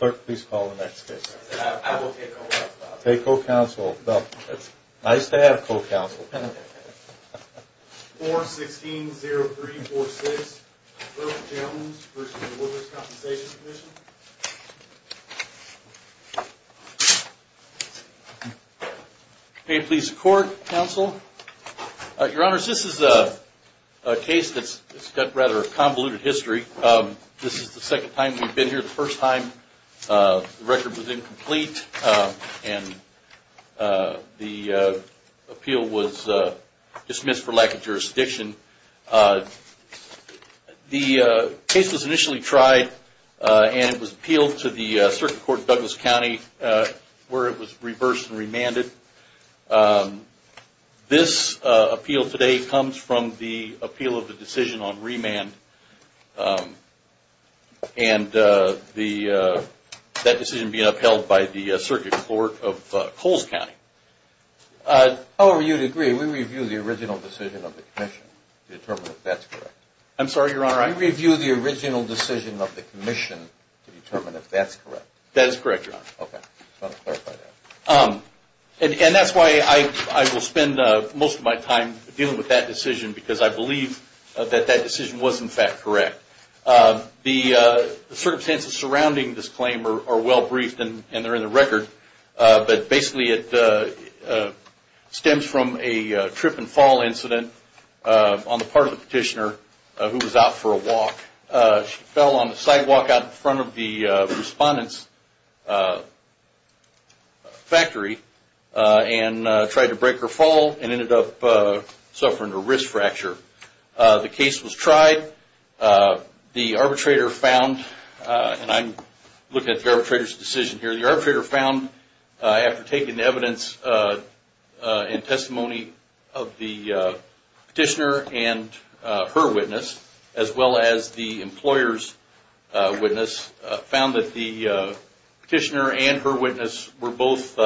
I will take co-counsel. Take co-counsel. Nice to have co-counsel. 416-0346, Berff Jones v. Workers' Compensation Comm'n Pay and Please of Court, Counsel. Your Honors, this is a case that's got rather convoluted history. This is the second time we've been here. The first time, the record was incomplete, and the appeal was dismissed for lack of jurisdiction. The case was initially tried, and it was appealed to the Circuit Court in Douglas County, where it was reversed and remanded. This appeal today comes from the appeal of the decision on remand and that decision being upheld by the Circuit Court of Coles County. However, you'd agree, we review the original decision of the Commission to determine if that's correct. I'm sorry, Your Honor. We review the original decision of the Commission to determine if that's correct. That is correct, Your Honor. Okay. I just wanted to clarify that. That's why I will spend most of my time dealing with that decision, because I believe that that decision was, in fact, correct. The circumstances surrounding this claim are well briefed, and they're in the record. Basically, it stems from a trip and fall incident on the part of the petitioner who was out for a walk. She fell on the sidewalk out in front of the respondent's factory and tried to break her fall and ended up suffering a wrist fracture. The case was tried. The arbitrator found, and I'm looking at the arbitrator's decision here, the arbitrator found, after taking the evidence and testimony of the petitioner and her witness, as well as the employer's witness, found that the petitioner and her witness were both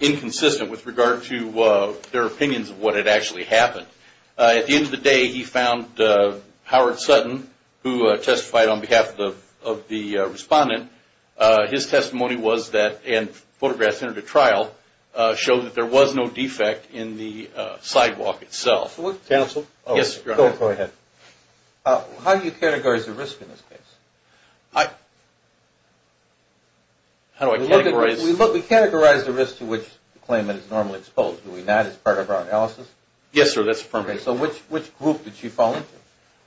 inconsistent with regard to their opinions of what had actually happened. At the end of the day, he found Howard Sutton, who testified on behalf of the respondent, his testimony was that, and photographs entered the trial, showed that there was no defect in the sidewalk itself. Counsel? Yes, Your Honor. Go ahead. How do you categorize the risk in this case? How do I categorize? We categorize the risk to which the claimant is normally exposed. Do we not as part of our analysis? Yes, sir. That's appropriate. So which group did she fall into?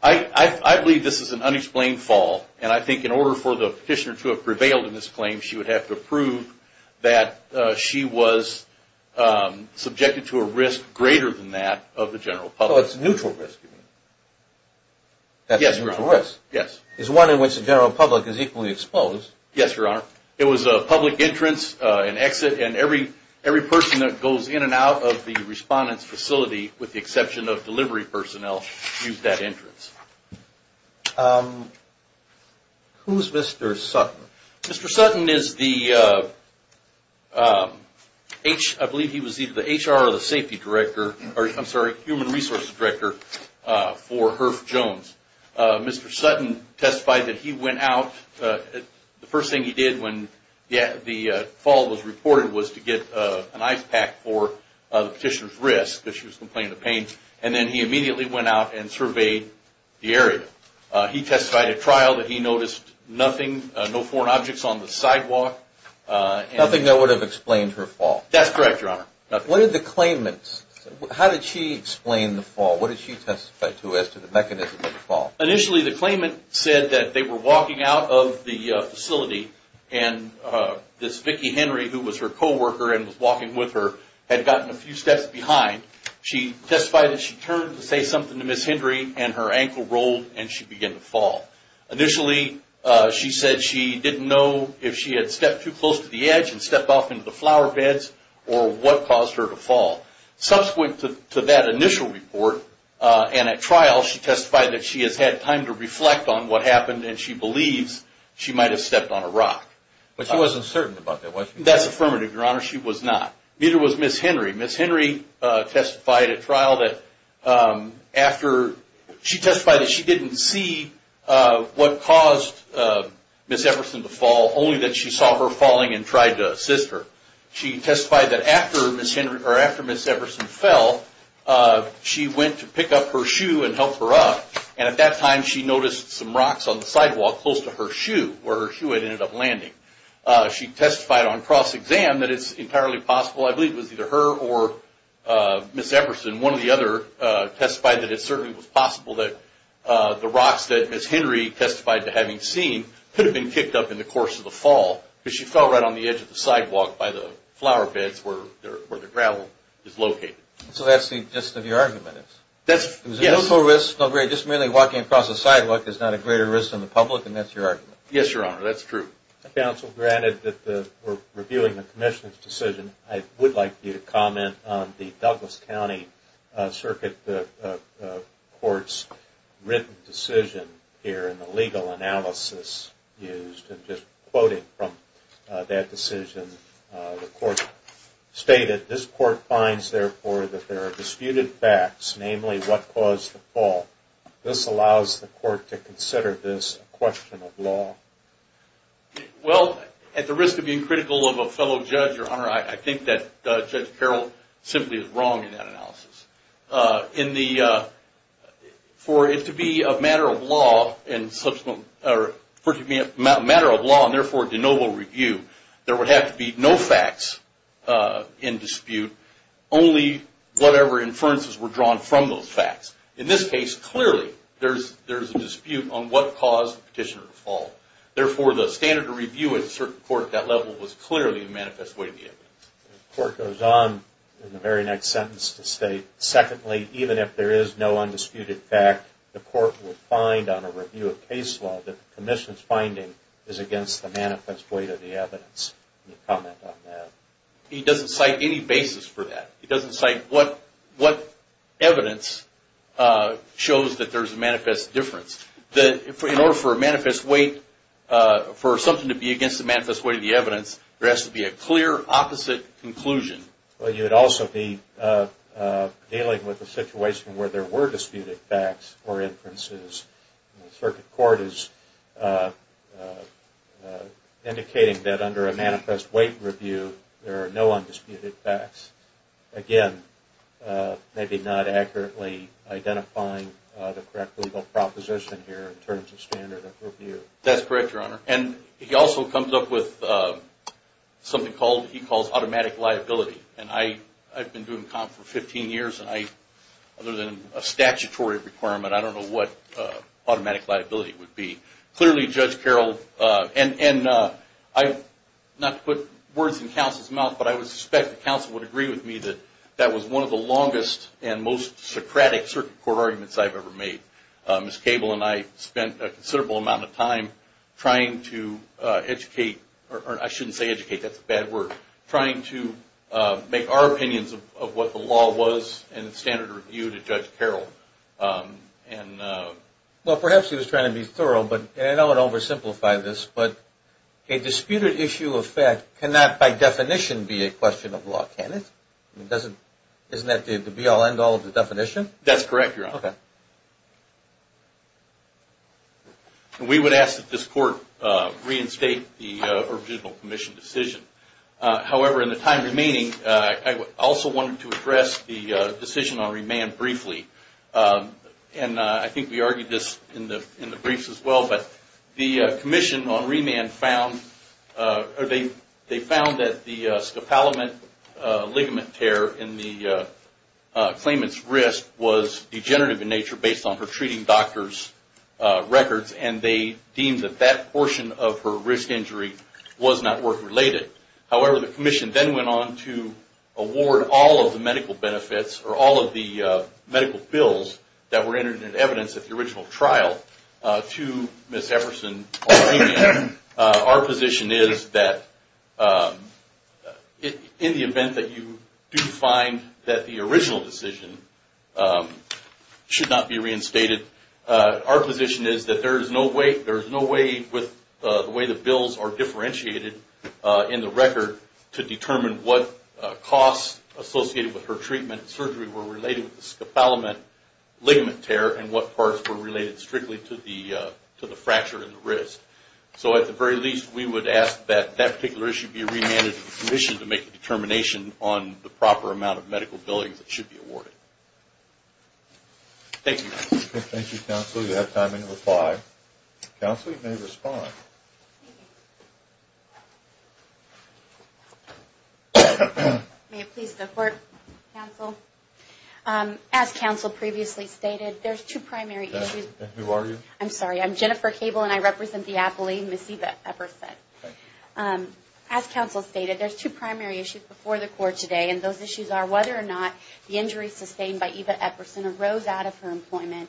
I believe this is an unexplained fall, and I think in order for the petitioner to have prevailed in this claim, she would have to prove that she was subjected to a risk greater than that of the general public. So it's a neutral risk. Yes, Your Honor. It's one in which the general public is equally exposed. Yes, Your Honor. It was a public entrance and exit, and every person that goes in and out of the respondent's facility, with the exception of delivery personnel, used that entrance. Who's Mr. Sutton? Mr. Sutton is the HR or the Safety Director, I'm sorry, Human Resources Director for Herff Jones. Mr. Sutton testified that he went out, the first thing he did when the fall was reported was to get an ice pack for the petitioner's wrist because she was complaining of pain, and then he immediately went out and surveyed the area. He testified at trial that he noticed nothing, no foreign objects on the sidewalk. Nothing that would have explained her fall? That's correct, Your Honor. What did the claimant say? How did she explain the fall? What did she testify to as to the mechanism of the fall? Initially, the claimant said that they were walking out of the facility, and this Vicki Henry, who was her coworker and was walking with her, had gotten a few steps behind. She testified that she turned to say something to Ms. Henry, and her ankle rolled, and she began to fall. Initially, she said she didn't know if she had stepped too close to the edge and stepped off into the flower beds or what caused her to fall. Subsequent to that initial report and at trial, she testified that she has had time to reflect on what happened, and she believes she might have stepped on a rock. But she wasn't certain about that, was she? That's affirmative, Your Honor. She was not. Neither was Ms. Henry. Ms. Henry testified at trial that after she testified that she didn't see what caused Ms. Everson to fall, only that she saw her falling and tried to assist her. She testified that after Ms. Everson fell, she went to pick up her shoe and help her up, and at that time she noticed some rocks on the sidewalk close to her shoe, where her shoe had ended up landing. She testified on cross-exam that it's entirely possible, I believe it was either her or Ms. Everson, one or the other testified that it certainly was possible that the rocks that Ms. Henry testified to having seen could have been kicked up in the course of the fall because she fell right on the edge of the sidewalk by the flower beds where the gravel is located. So that's the gist of your argument? Yes. Just merely walking across the sidewalk is not a greater risk than the public, and that's your argument? Yes, Your Honor. That's true. Counsel, granted that we're reviewing the Commissioner's decision, I would like you to comment on the Douglas County Circuit Court's written decision here in the legal analysis used. And just quoting from that decision, the court stated, this court finds, therefore, that there are disputed facts, namely what caused the fall. This allows the court to consider this a question of law. Well, at the risk of being critical of a fellow judge, Your Honor, I think that Judge Carroll simply is wrong in that analysis. For it to be a matter of law and, therefore, a de novo review, there would have to be no facts in dispute, only whatever inferences were drawn from those facts. In this case, clearly, there's a dispute on what caused the petitioner to fall. Therefore, the standard of review at a certain court at that level was clearly a manifest way of the evidence. The court goes on in the very next sentence to state, secondly, even if there is no undisputed fact, the court will find on a review of case law that the Commissioner's finding is against the manifest way of the evidence. Can you comment on that? He doesn't cite any basis for that. He doesn't cite what evidence shows that there's a manifest difference. In order for a manifest way, for something to be against the manifest way of the evidence, there has to be a clear opposite conclusion. You'd also be dealing with a situation where there were disputed facts or inferences. The circuit court is indicating that under a manifest way review, there are no undisputed facts. Again, maybe not accurately identifying the correct legal proposition here That's correct, Your Honor. He also comes up with something he calls automatic liability. I've been doing comp for 15 years, and other than a statutory requirement, I don't know what automatic liability would be. Clearly, Judge Carroll, and not to put words in counsel's mouth, but I would suspect that counsel would agree with me that that was one of the longest and most Socratic circuit court arguments I've ever made. Ms. Cable and I spent a considerable amount of time trying to educate, or I shouldn't say educate, that's a bad word, trying to make our opinions of what the law was in standard review to Judge Carroll. Well, perhaps he was trying to be thorough, and I don't want to oversimplify this, but a disputed issue of fact cannot by definition be a question of law, can it? Isn't that the be all end all of the definition? That's correct, Your Honor. Okay. We would ask that this court reinstate the original commission decision. However, in the time remaining, I also wanted to address the decision on remand briefly, and I think we argued this in the briefs as well, but the commission on remand found, they found that the scopolamine ligament tear in the claimant's wrist was degenerative in nature based on her treating doctor's records, and they deemed that that portion of her risk injury was not work related. However, the commission then went on to award all of the medical benefits, or all of the medical bills that were entered in evidence at the original trial to Ms. Everson-Aldini. Our position is that in the event that you do find that the original decision should not be reinstated, our position is that there is no way with the way the bills are differentiated in the record to determine what costs associated with her treatment and surgery were related with the scopolamine ligament tear and what parts were related strictly to the fracture in the wrist. So at the very least, we would ask that that particular issue be remanded to the commission to determine the proper amount of medical billings that should be awarded. Thank you. Thank you, counsel. You have time until 5. Counsel, you may respond. May it please the court, counsel. As counsel previously stated, there's two primary issues. Who are you? I'm sorry. I'm Jennifer Cable, and I represent the appellee, Ms. Eva Everson. As counsel stated, there's two primary issues before the court today, and those issues are whether or not the injuries sustained by Eva Everson arose out of her employment.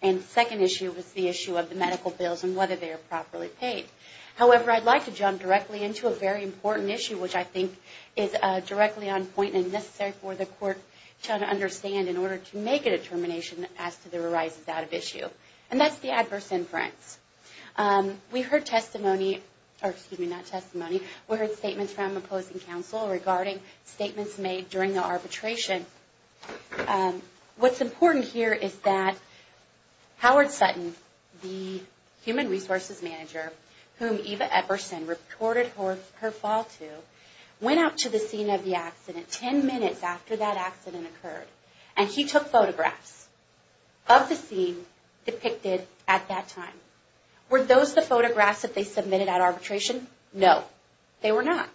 And the second issue was the issue of the medical bills and whether they are properly paid. However, I'd like to jump directly into a very important issue, which I think is directly on point and necessary for the court to understand in order to make a determination as to the arises out of issue, and that's the adverse inference. We heard testimony, or excuse me, not testimony. We heard statements from opposing counsel regarding statements made during the arbitration. What's important here is that Howard Sutton, the human resources manager, whom Eva Everson reported her fall to, went out to the scene of the accident 10 minutes after that accident occurred, and he took photographs of the scene depicted at that time. Were those the photographs that they submitted at arbitration? No, they were not.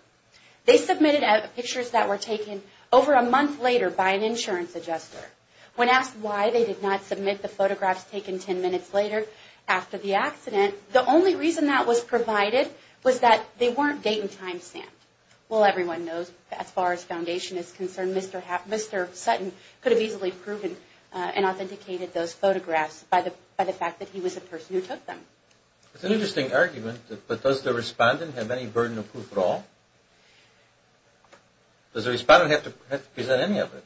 They submitted pictures that were taken over a month later by an insurance adjuster. When asked why they did not submit the photographs taken 10 minutes later after the accident, the only reason that was provided was that they weren't date and time stamped. Well, everyone knows as far as foundation is concerned, Mr. Sutton could have easily proven and authenticated those photographs by the fact that he was a person who took them. It's an interesting argument, but does the respondent have any burden of proof at all? Does the respondent have to present any evidence?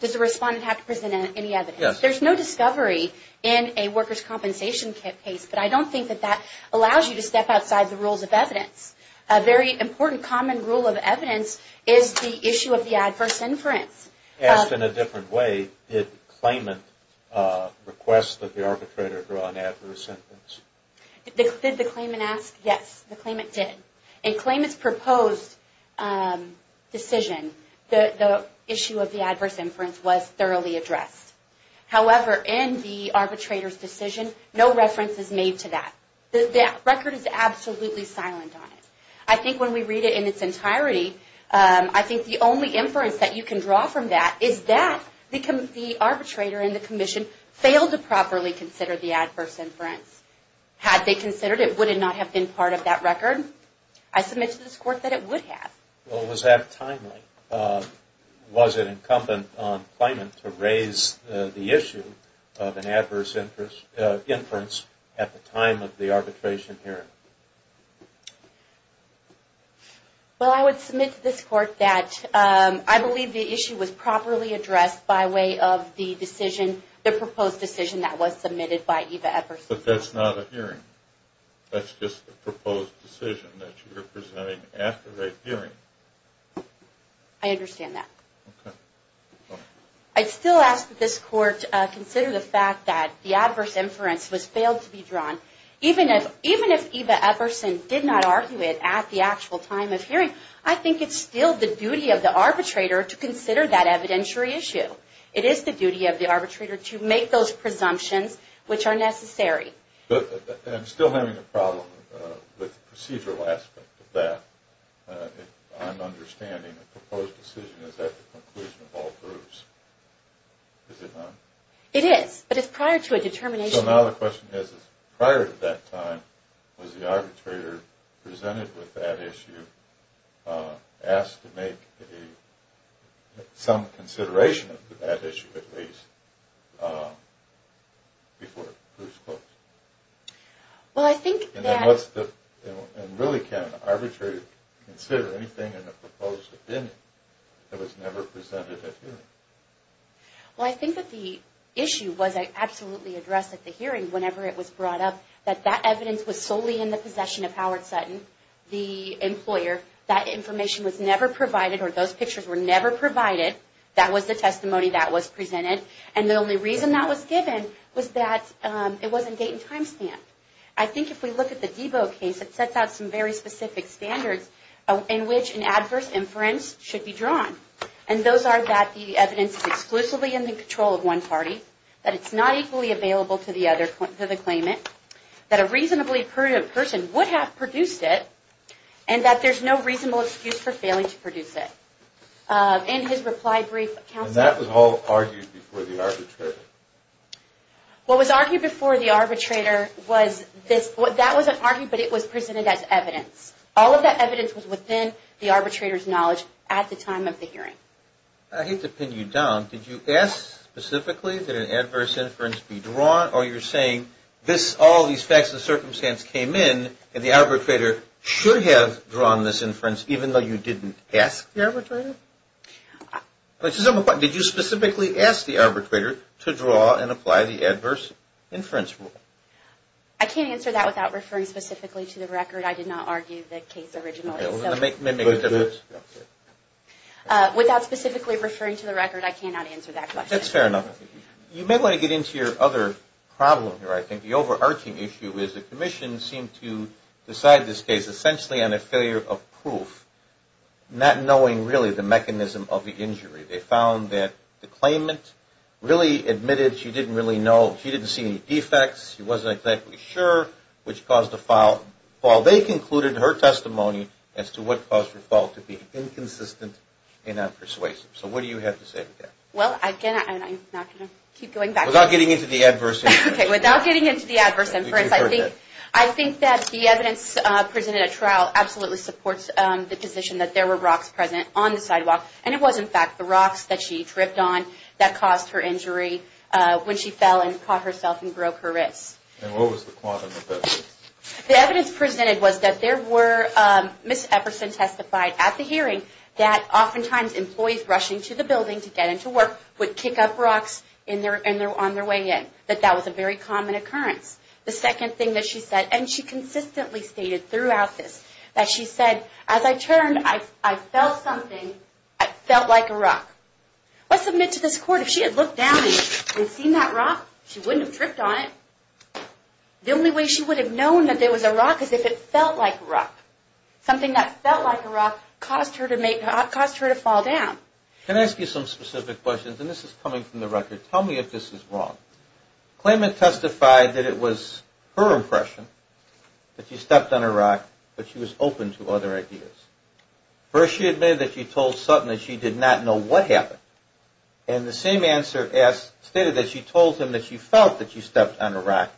Does the respondent have to present any evidence? Yes. There's no discovery in a workers' compensation case, but I don't think that that allows you to step outside the rules of evidence. A very important common rule of evidence is the issue of the adverse inference. Asked in a different way, did the claimant request that the arbitrator draw an adverse inference? Did the claimant ask? Yes, the claimant did. In the claimant's proposed decision, the issue of the adverse inference was thoroughly addressed. However, in the arbitrator's decision, no reference is made to that. The record is absolutely silent on it. I think when we read it in its entirety, I think the only inference that you can draw from that is that the arbitrator and the commission failed to properly consider the adverse inference. Had they considered it, would it not have been part of that record? I submit to this Court that it would have. Was that timely? Was it incumbent on the claimant to raise the issue of an adverse inference at the time of the arbitration hearing? Well, I would submit to this Court that I believe the issue was properly addressed by way of the proposed decision that was submitted by Eva Everson. But that's not a hearing. That's just a proposed decision that you're presenting after that hearing. I understand that. Okay. I'd still ask that this Court consider the fact that the adverse inference was failed to be drawn. Even if Eva Everson did not argue it at the actual time of hearing, I think it's still the duty of the arbitrator to consider that evidentiary issue. It is the duty of the arbitrator to make those presumptions which are necessary. But I'm still having a problem with the procedural aspect of that. I'm understanding the proposed decision is at the conclusion of all groups. Is it not? It is. But it's prior to a determination. So now the question is, prior to that time, was the arbitrator presented with that issue, asked to make some consideration of that issue, at least, before it was closed? Well, I think that... And really, can an arbitrator consider anything in the proposed opinion that was never presented at hearing? Well, I think that the issue was absolutely addressed at the hearing whenever it was brought up, that that evidence was solely in the possession of Howard Sutton, the employer. That information was never provided, or those pictures were never provided. That was the testimony that was presented. And the only reason that was given was that it wasn't date and time stamped. I think if we look at the Debo case, it sets out some very specific standards in which an adverse inference should be drawn. And those are that the evidence is exclusively in the control of one party, that it's not equally available to the claimant, that a reasonably prudent person would have produced it, and that there's no reasonable excuse for failing to produce it. In his reply brief, counsel... And that was all argued before the arbitrator? What was argued before the arbitrator was this... That wasn't argued, but it was presented as evidence. All of that evidence was within the arbitrator's knowledge at the time of the hearing. I hate to pin you down. Did you ask specifically that an adverse inference be drawn, or you're saying all these facts and circumstances came in, and the arbitrator should have drawn this inference even though you didn't ask the arbitrator? Did you specifically ask the arbitrator to draw and apply the adverse inference rule? I can't answer that without referring specifically to the record. I did not argue the case originally. Without specifically referring to the record, I cannot answer that question. That's fair enough. You may want to get into your other problem here, I think. The overarching issue is the commission seemed to decide this case essentially on a failure of proof, not knowing really the mechanism of the injury. They found that the claimant really admitted she didn't really know. She didn't see any defects. She wasn't exactly sure, which caused the fall. They concluded her testimony as to what caused her fall to be inconsistent and not persuasive. So what do you have to say to that? Well, again, I'm not going to keep going back to that. Without getting into the adverse inference. Okay, without getting into the adverse inference, I think that the evidence presented at trial absolutely supports the position that there were rocks present on the sidewalk, and it was, in fact, the rocks that she tripped on that caused her injury when she fell and caught herself and broke her wrists. And what was the quantum of evidence? The evidence presented was that there were, Ms. Epperson testified at the hearing, that oftentimes employees rushing to the building to get into work would kick up rocks on their way in, that that was a very common occurrence. The second thing that she said, and she consistently stated throughout this, that she said, as I turned, I felt something. I felt like a rock. Let's admit to this court, if she had looked down and seen that rock, she wouldn't have tripped on it. The only way she would have known that there was a rock is if it felt like a rock. Something that felt like a rock caused her to fall down. Can I ask you some specific questions? And this is coming from the record. Tell me if this is wrong. Claimant testified that it was her impression that she stepped on a rock, but she was open to other ideas. First she admitted that she told Sutton that she did not know what happened. And the same answer stated that she told him that she felt that she stepped on a rock.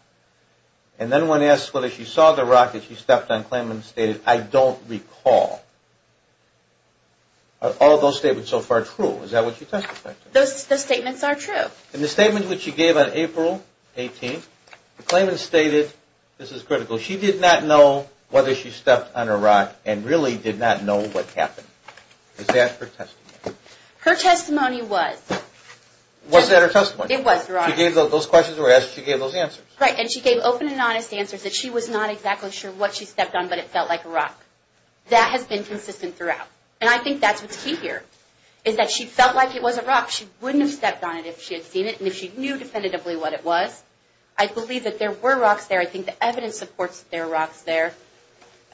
And then when asked whether she saw the rock that she stepped on, claimant stated, I don't recall. Are all those statements so far true? Is that what you testified to? Those statements are true. In the statement which she gave on April 18th, the claimant stated, this is critical, she did not know whether she stepped on a rock and really did not know what happened. Is that her testimony? Her testimony was. Was that her testimony? It was, Your Honor. She gave those questions that were asked, she gave those answers. Right, and she gave open and honest answers that she was not exactly sure what she stepped on, but it felt like a rock. That has been consistent throughout. And I think that's what's key here, is that she felt like it was a rock. She wouldn't have stepped on it if she had seen it and if she knew definitively what it was. I believe that there were rocks there. I think the evidence supports that there are rocks there.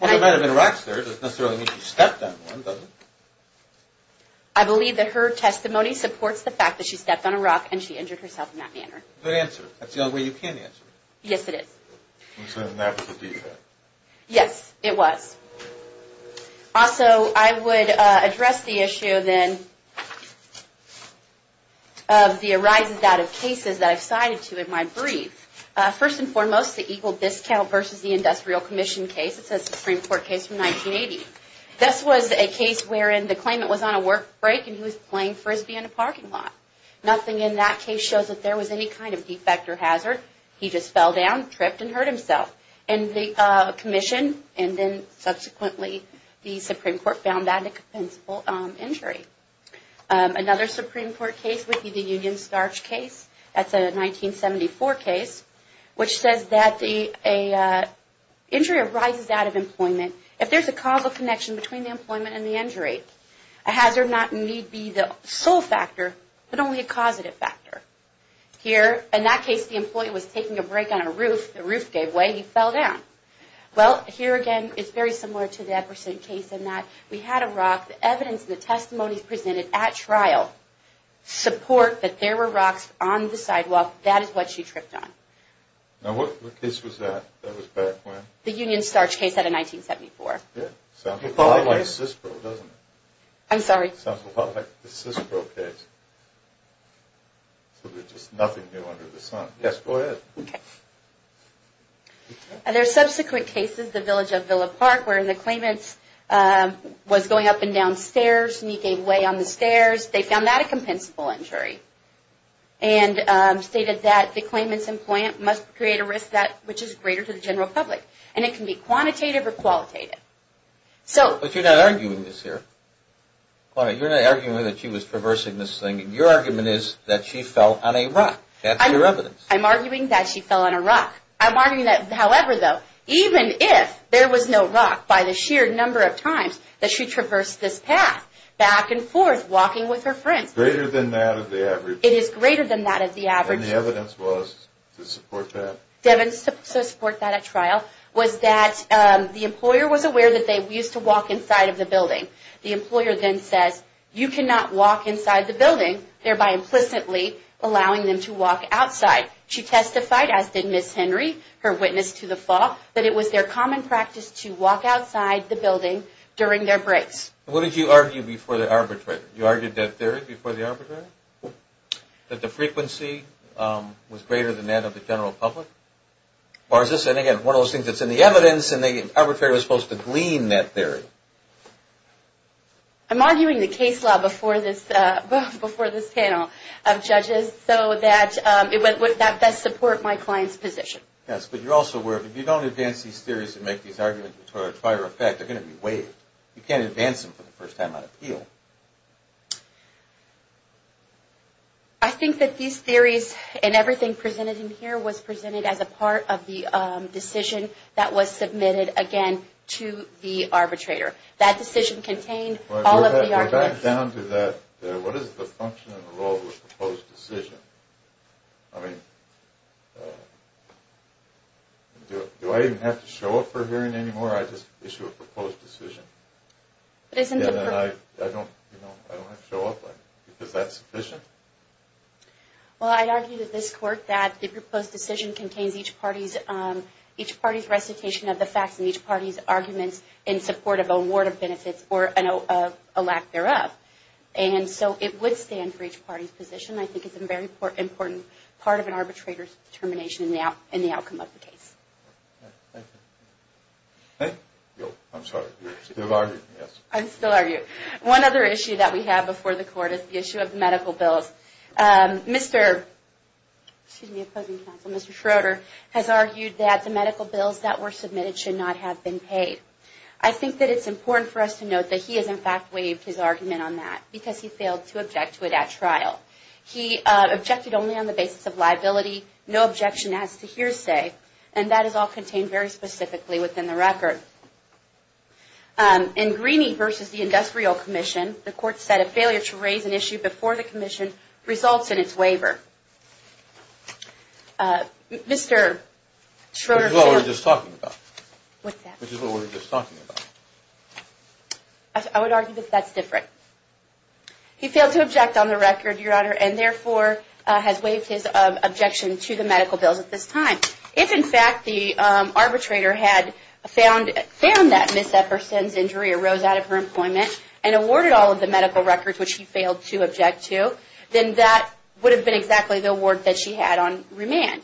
Well, there might have been rocks there. It doesn't necessarily mean she stepped on one, does it? I believe that her testimony supports the fact that she stepped on a rock and she injured herself in that manner. Good answer. That's the only way you can answer it. Yes, it is. And so that was the deed, then? Yes, it was. Also, I would address the issue, then, of the arises out of cases that I've cited to in my brief. First and foremost, the Eagle Discount versus the Industrial Commission case. It's a Supreme Court case from 1980. This was a case wherein the claimant was on a work break and he was playing Frisbee in a parking lot. Nothing in that case shows that there was any kind of defect or hazard. He just fell down, tripped, and hurt himself. And the commission, and then subsequently the Supreme Court, found that a compensable injury. Another Supreme Court case would be the Union Starch case. That's a 1974 case, which says that an injury arises out of employment if there's a causal connection between the employment and the injury. A hazard not need be the sole factor, but only a causative factor. Here, in that case, the employee was taking a break on a roof. The roof gave way. He fell down. Well, here again, it's very similar to the Epperson case in that we had a rock. The evidence and the testimonies presented at trial support that there were rocks on the sidewalk. That is what she tripped on. Now, what case was that? That was back when? The Union Starch case out of 1974. Yeah. Sounds a lot like CISPRO, doesn't it? I'm sorry? Sounds a lot like the CISPRO case. So there's just nothing new under the sun. Yes, go ahead. Okay. There are subsequent cases, the village of Villa Park, where the claimant was going up and down stairs, and he gave way on the stairs. They found that a compensable injury and stated that the claimant's employment must create a risk which is greater to the general public. And it can be quantitative or qualitative. But you're not arguing this here. You're not arguing that she was traversing this thing. Your argument is that she fell on a rock. That's your evidence. I'm arguing that she fell on a rock. I'm arguing that, however, though, even if there was no rock, by the sheer number of times that she traversed this path, back and forth, walking with her friends. Greater than that of the average. It is greater than that of the average. And the evidence was to support that. To support that at trial was that the employer was aware that they used to walk inside of the building. The employer then says, you cannot walk inside the building, thereby implicitly allowing them to walk outside. She testified, as did Ms. Henry, her witness to the fall, that it was their common practice to walk outside the building during their breaks. What did you argue before the arbitrator? You argued that theory before the arbitrator? That the frequency was greater than that of the general public? Or is this, again, one of those things that's in the evidence and the arbitrator was supposed to glean that theory? I'm arguing the case law before this panel of judges so that it would best support my client's position. Yes, but you're also aware if you don't advance these theories and make these arguments to a prior effect, they're going to be waived. You can't advance them for the first time on appeal. I think that these theories and everything presented in here was presented as a part of the decision that was submitted, again, to the arbitrator. That decision contained all of the arguments. Back down to that, what is the function of the law of a proposed decision? I mean, do I even have to show up for a hearing anymore? I just issue a proposed decision. I don't have to show up. Is that sufficient? Well, I'd argue to this court that the proposed decision contains each party's recitation of the facts and each party's arguments in support of a ward of benefits or a lack thereof. And so it would stand for each party's position. I think it's a very important part of an arbitrator's determination in the outcome of the case. Thank you. I'm sorry, you're still arguing, yes? I'm still arguing. One other issue that we have before the court is the issue of medical bills. Mr. Schroeder has argued that the medical bills that were submitted should not have been paid. I think that it's important for us to note that he has, in fact, waived his argument on that because he failed to object to it at trial. He objected only on the basis of liability, no objection as to hearsay, and that is all contained very specifically within the record. In Greeney v. The Industrial Commission, the court said a failure to raise an issue before the commission results in its waiver. Mr. Schroeder. Which is what we were just talking about. What's that? Which is what we were just talking about. I would argue that that's different. He failed to object on the record, Your Honor, and therefore has waived his objection to the medical bills at this time. If, in fact, the arbitrator had found that Ms. Epperson's injury arose out of her employment and awarded all of the medical records, which he failed to object to, then that would have been exactly the award that she had on remand.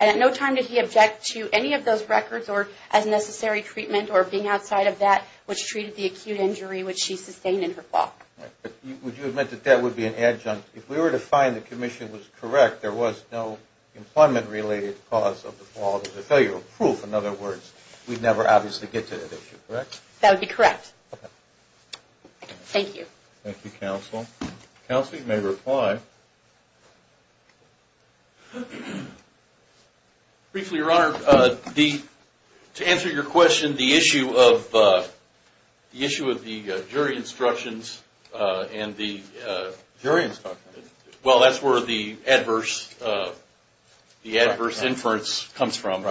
And at no time did he object to any of those records or as necessary treatment or being outside of that which treated the acute injury which she sustained in her fall. Would you admit that that would be an adjunct? If we were to find the commission was correct, there was no employment-related cause of the fall of the failure of proof. In other words, we'd never obviously get to that issue, correct? That would be correct. Thank you. Thank you, counsel. Counsel, you may reply. Briefly, Your Honor, to answer your question, the issue of the jury instructions and the… Jury instructions? Well, that's where the adverse inference comes from,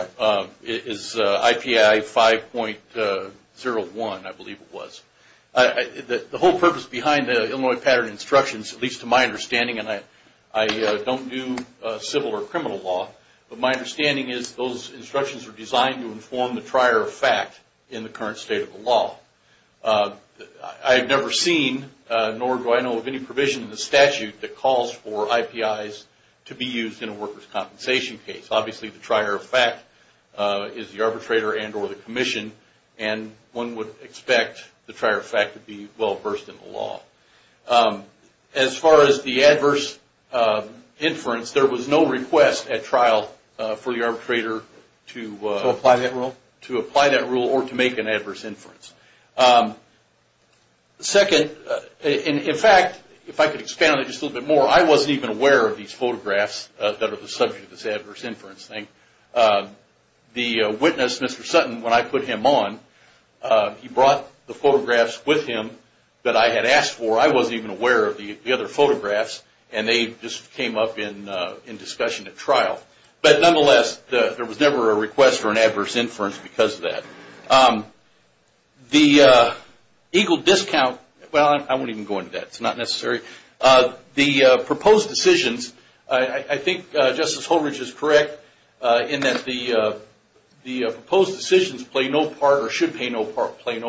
is IPI 5.01, I believe it was. The whole purpose behind the Illinois pattern instructions, at least to my understanding, and I don't do civil or criminal law, but my understanding is those instructions are designed to inform the trier of fact in the current state of the law. I've never seen nor do I know of any provision in the statute that calls for IPIs to be used in a workers' compensation case. Obviously, the trier of fact is the arbitrator and or the commission, and one would expect the trier of fact to be well-versed in the law. As far as the adverse inference, there was no request at trial for the arbitrator to… To apply that rule? To apply that rule or to make an adverse inference. Second, in fact, if I could expand it just a little bit more, I wasn't even aware of these photographs that are the subject of this adverse inference thing. The witness, Mr. Sutton, when I put him on, he brought the photographs with him that I had asked for. I wasn't even aware of the other photographs, and they just came up in discussion at trial. But nonetheless, there was never a request for an adverse inference because of that. The Eagle discount… Well, I won't even go into that. It's not necessary. The proposed decisions, I think Justice Holbridge is correct in that the proposed decisions play no part or should play no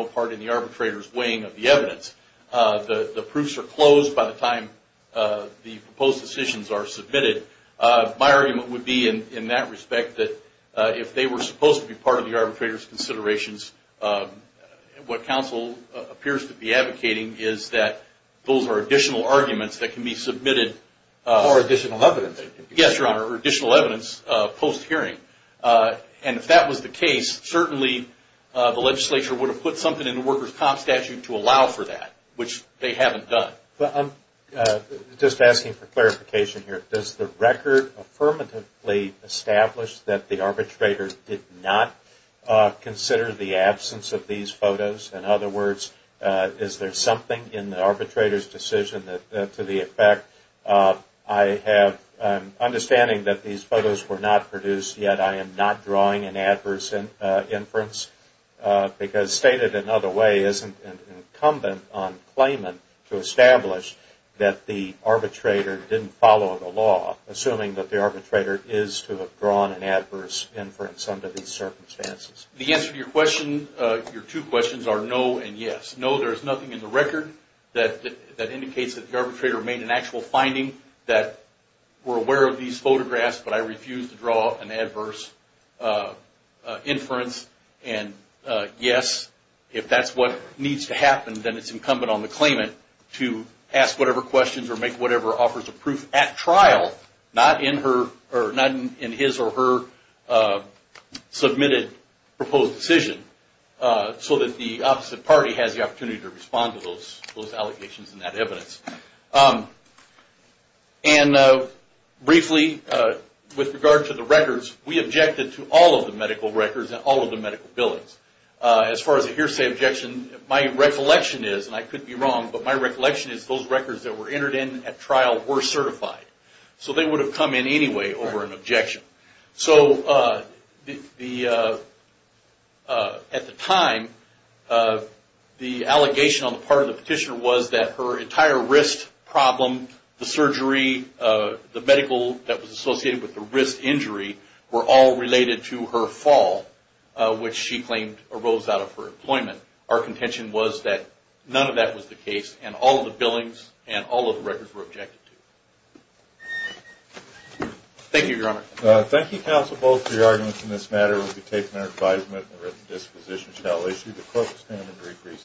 part in the arbitrator's weighing of the evidence. The proofs are closed by the time the proposed decisions are submitted. My argument would be in that respect that if they were supposed to be part of the arbitrator's considerations, what counsel appears to be advocating is that those are additional arguments that can be submitted. Or additional evidence. Yes, Your Honor, or additional evidence post-hearing. And if that was the case, certainly the legislature would have put something in the worker's comp statute to allow for that, which they haven't done. I'm just asking for clarification here. Does the record affirmatively establish that the arbitrator did not consider the absence of these photos? In other words, is there something in the arbitrator's decision to the effect, I have an understanding that these photos were not produced, yet I am not drawing an adverse inference? Because stated another way, isn't it incumbent on claimant to establish that the arbitrator didn't follow the law, assuming that the arbitrator is to have drawn an adverse inference under these circumstances? The answer to your two questions are no and yes. No, there is nothing in the record that indicates that the arbitrator made an actual finding that we're aware of these photographs, but I refuse to draw an adverse inference. And yes, if that's what needs to happen, then it's incumbent on the claimant to ask whatever questions or make whatever offers of proof at trial, not in his or her submitted proposed decision, so that the opposite party has the opportunity to respond to those allegations and that evidence. And briefly, with regard to the records, we objected to all of the medical records and all of the medical billings. As far as a hearsay objection, my recollection is, and I could be wrong, but my recollection is those records that were entered in at trial were certified. So they would have come in anyway over an objection. So at the time, the allegation on the part of the petitioner was that her entire wrist problem, the surgery, the medical that was associated with the wrist injury were all related to her fall, which she claimed arose out of her employment. Our contention was that none of that was the case, and all of the billings and all of the records were objected to. Thank you, Your Honor. Thank you, counsel, both for your arguments in this matter. We've taken our advisement, and the written disposition shall issue the court the standard degree.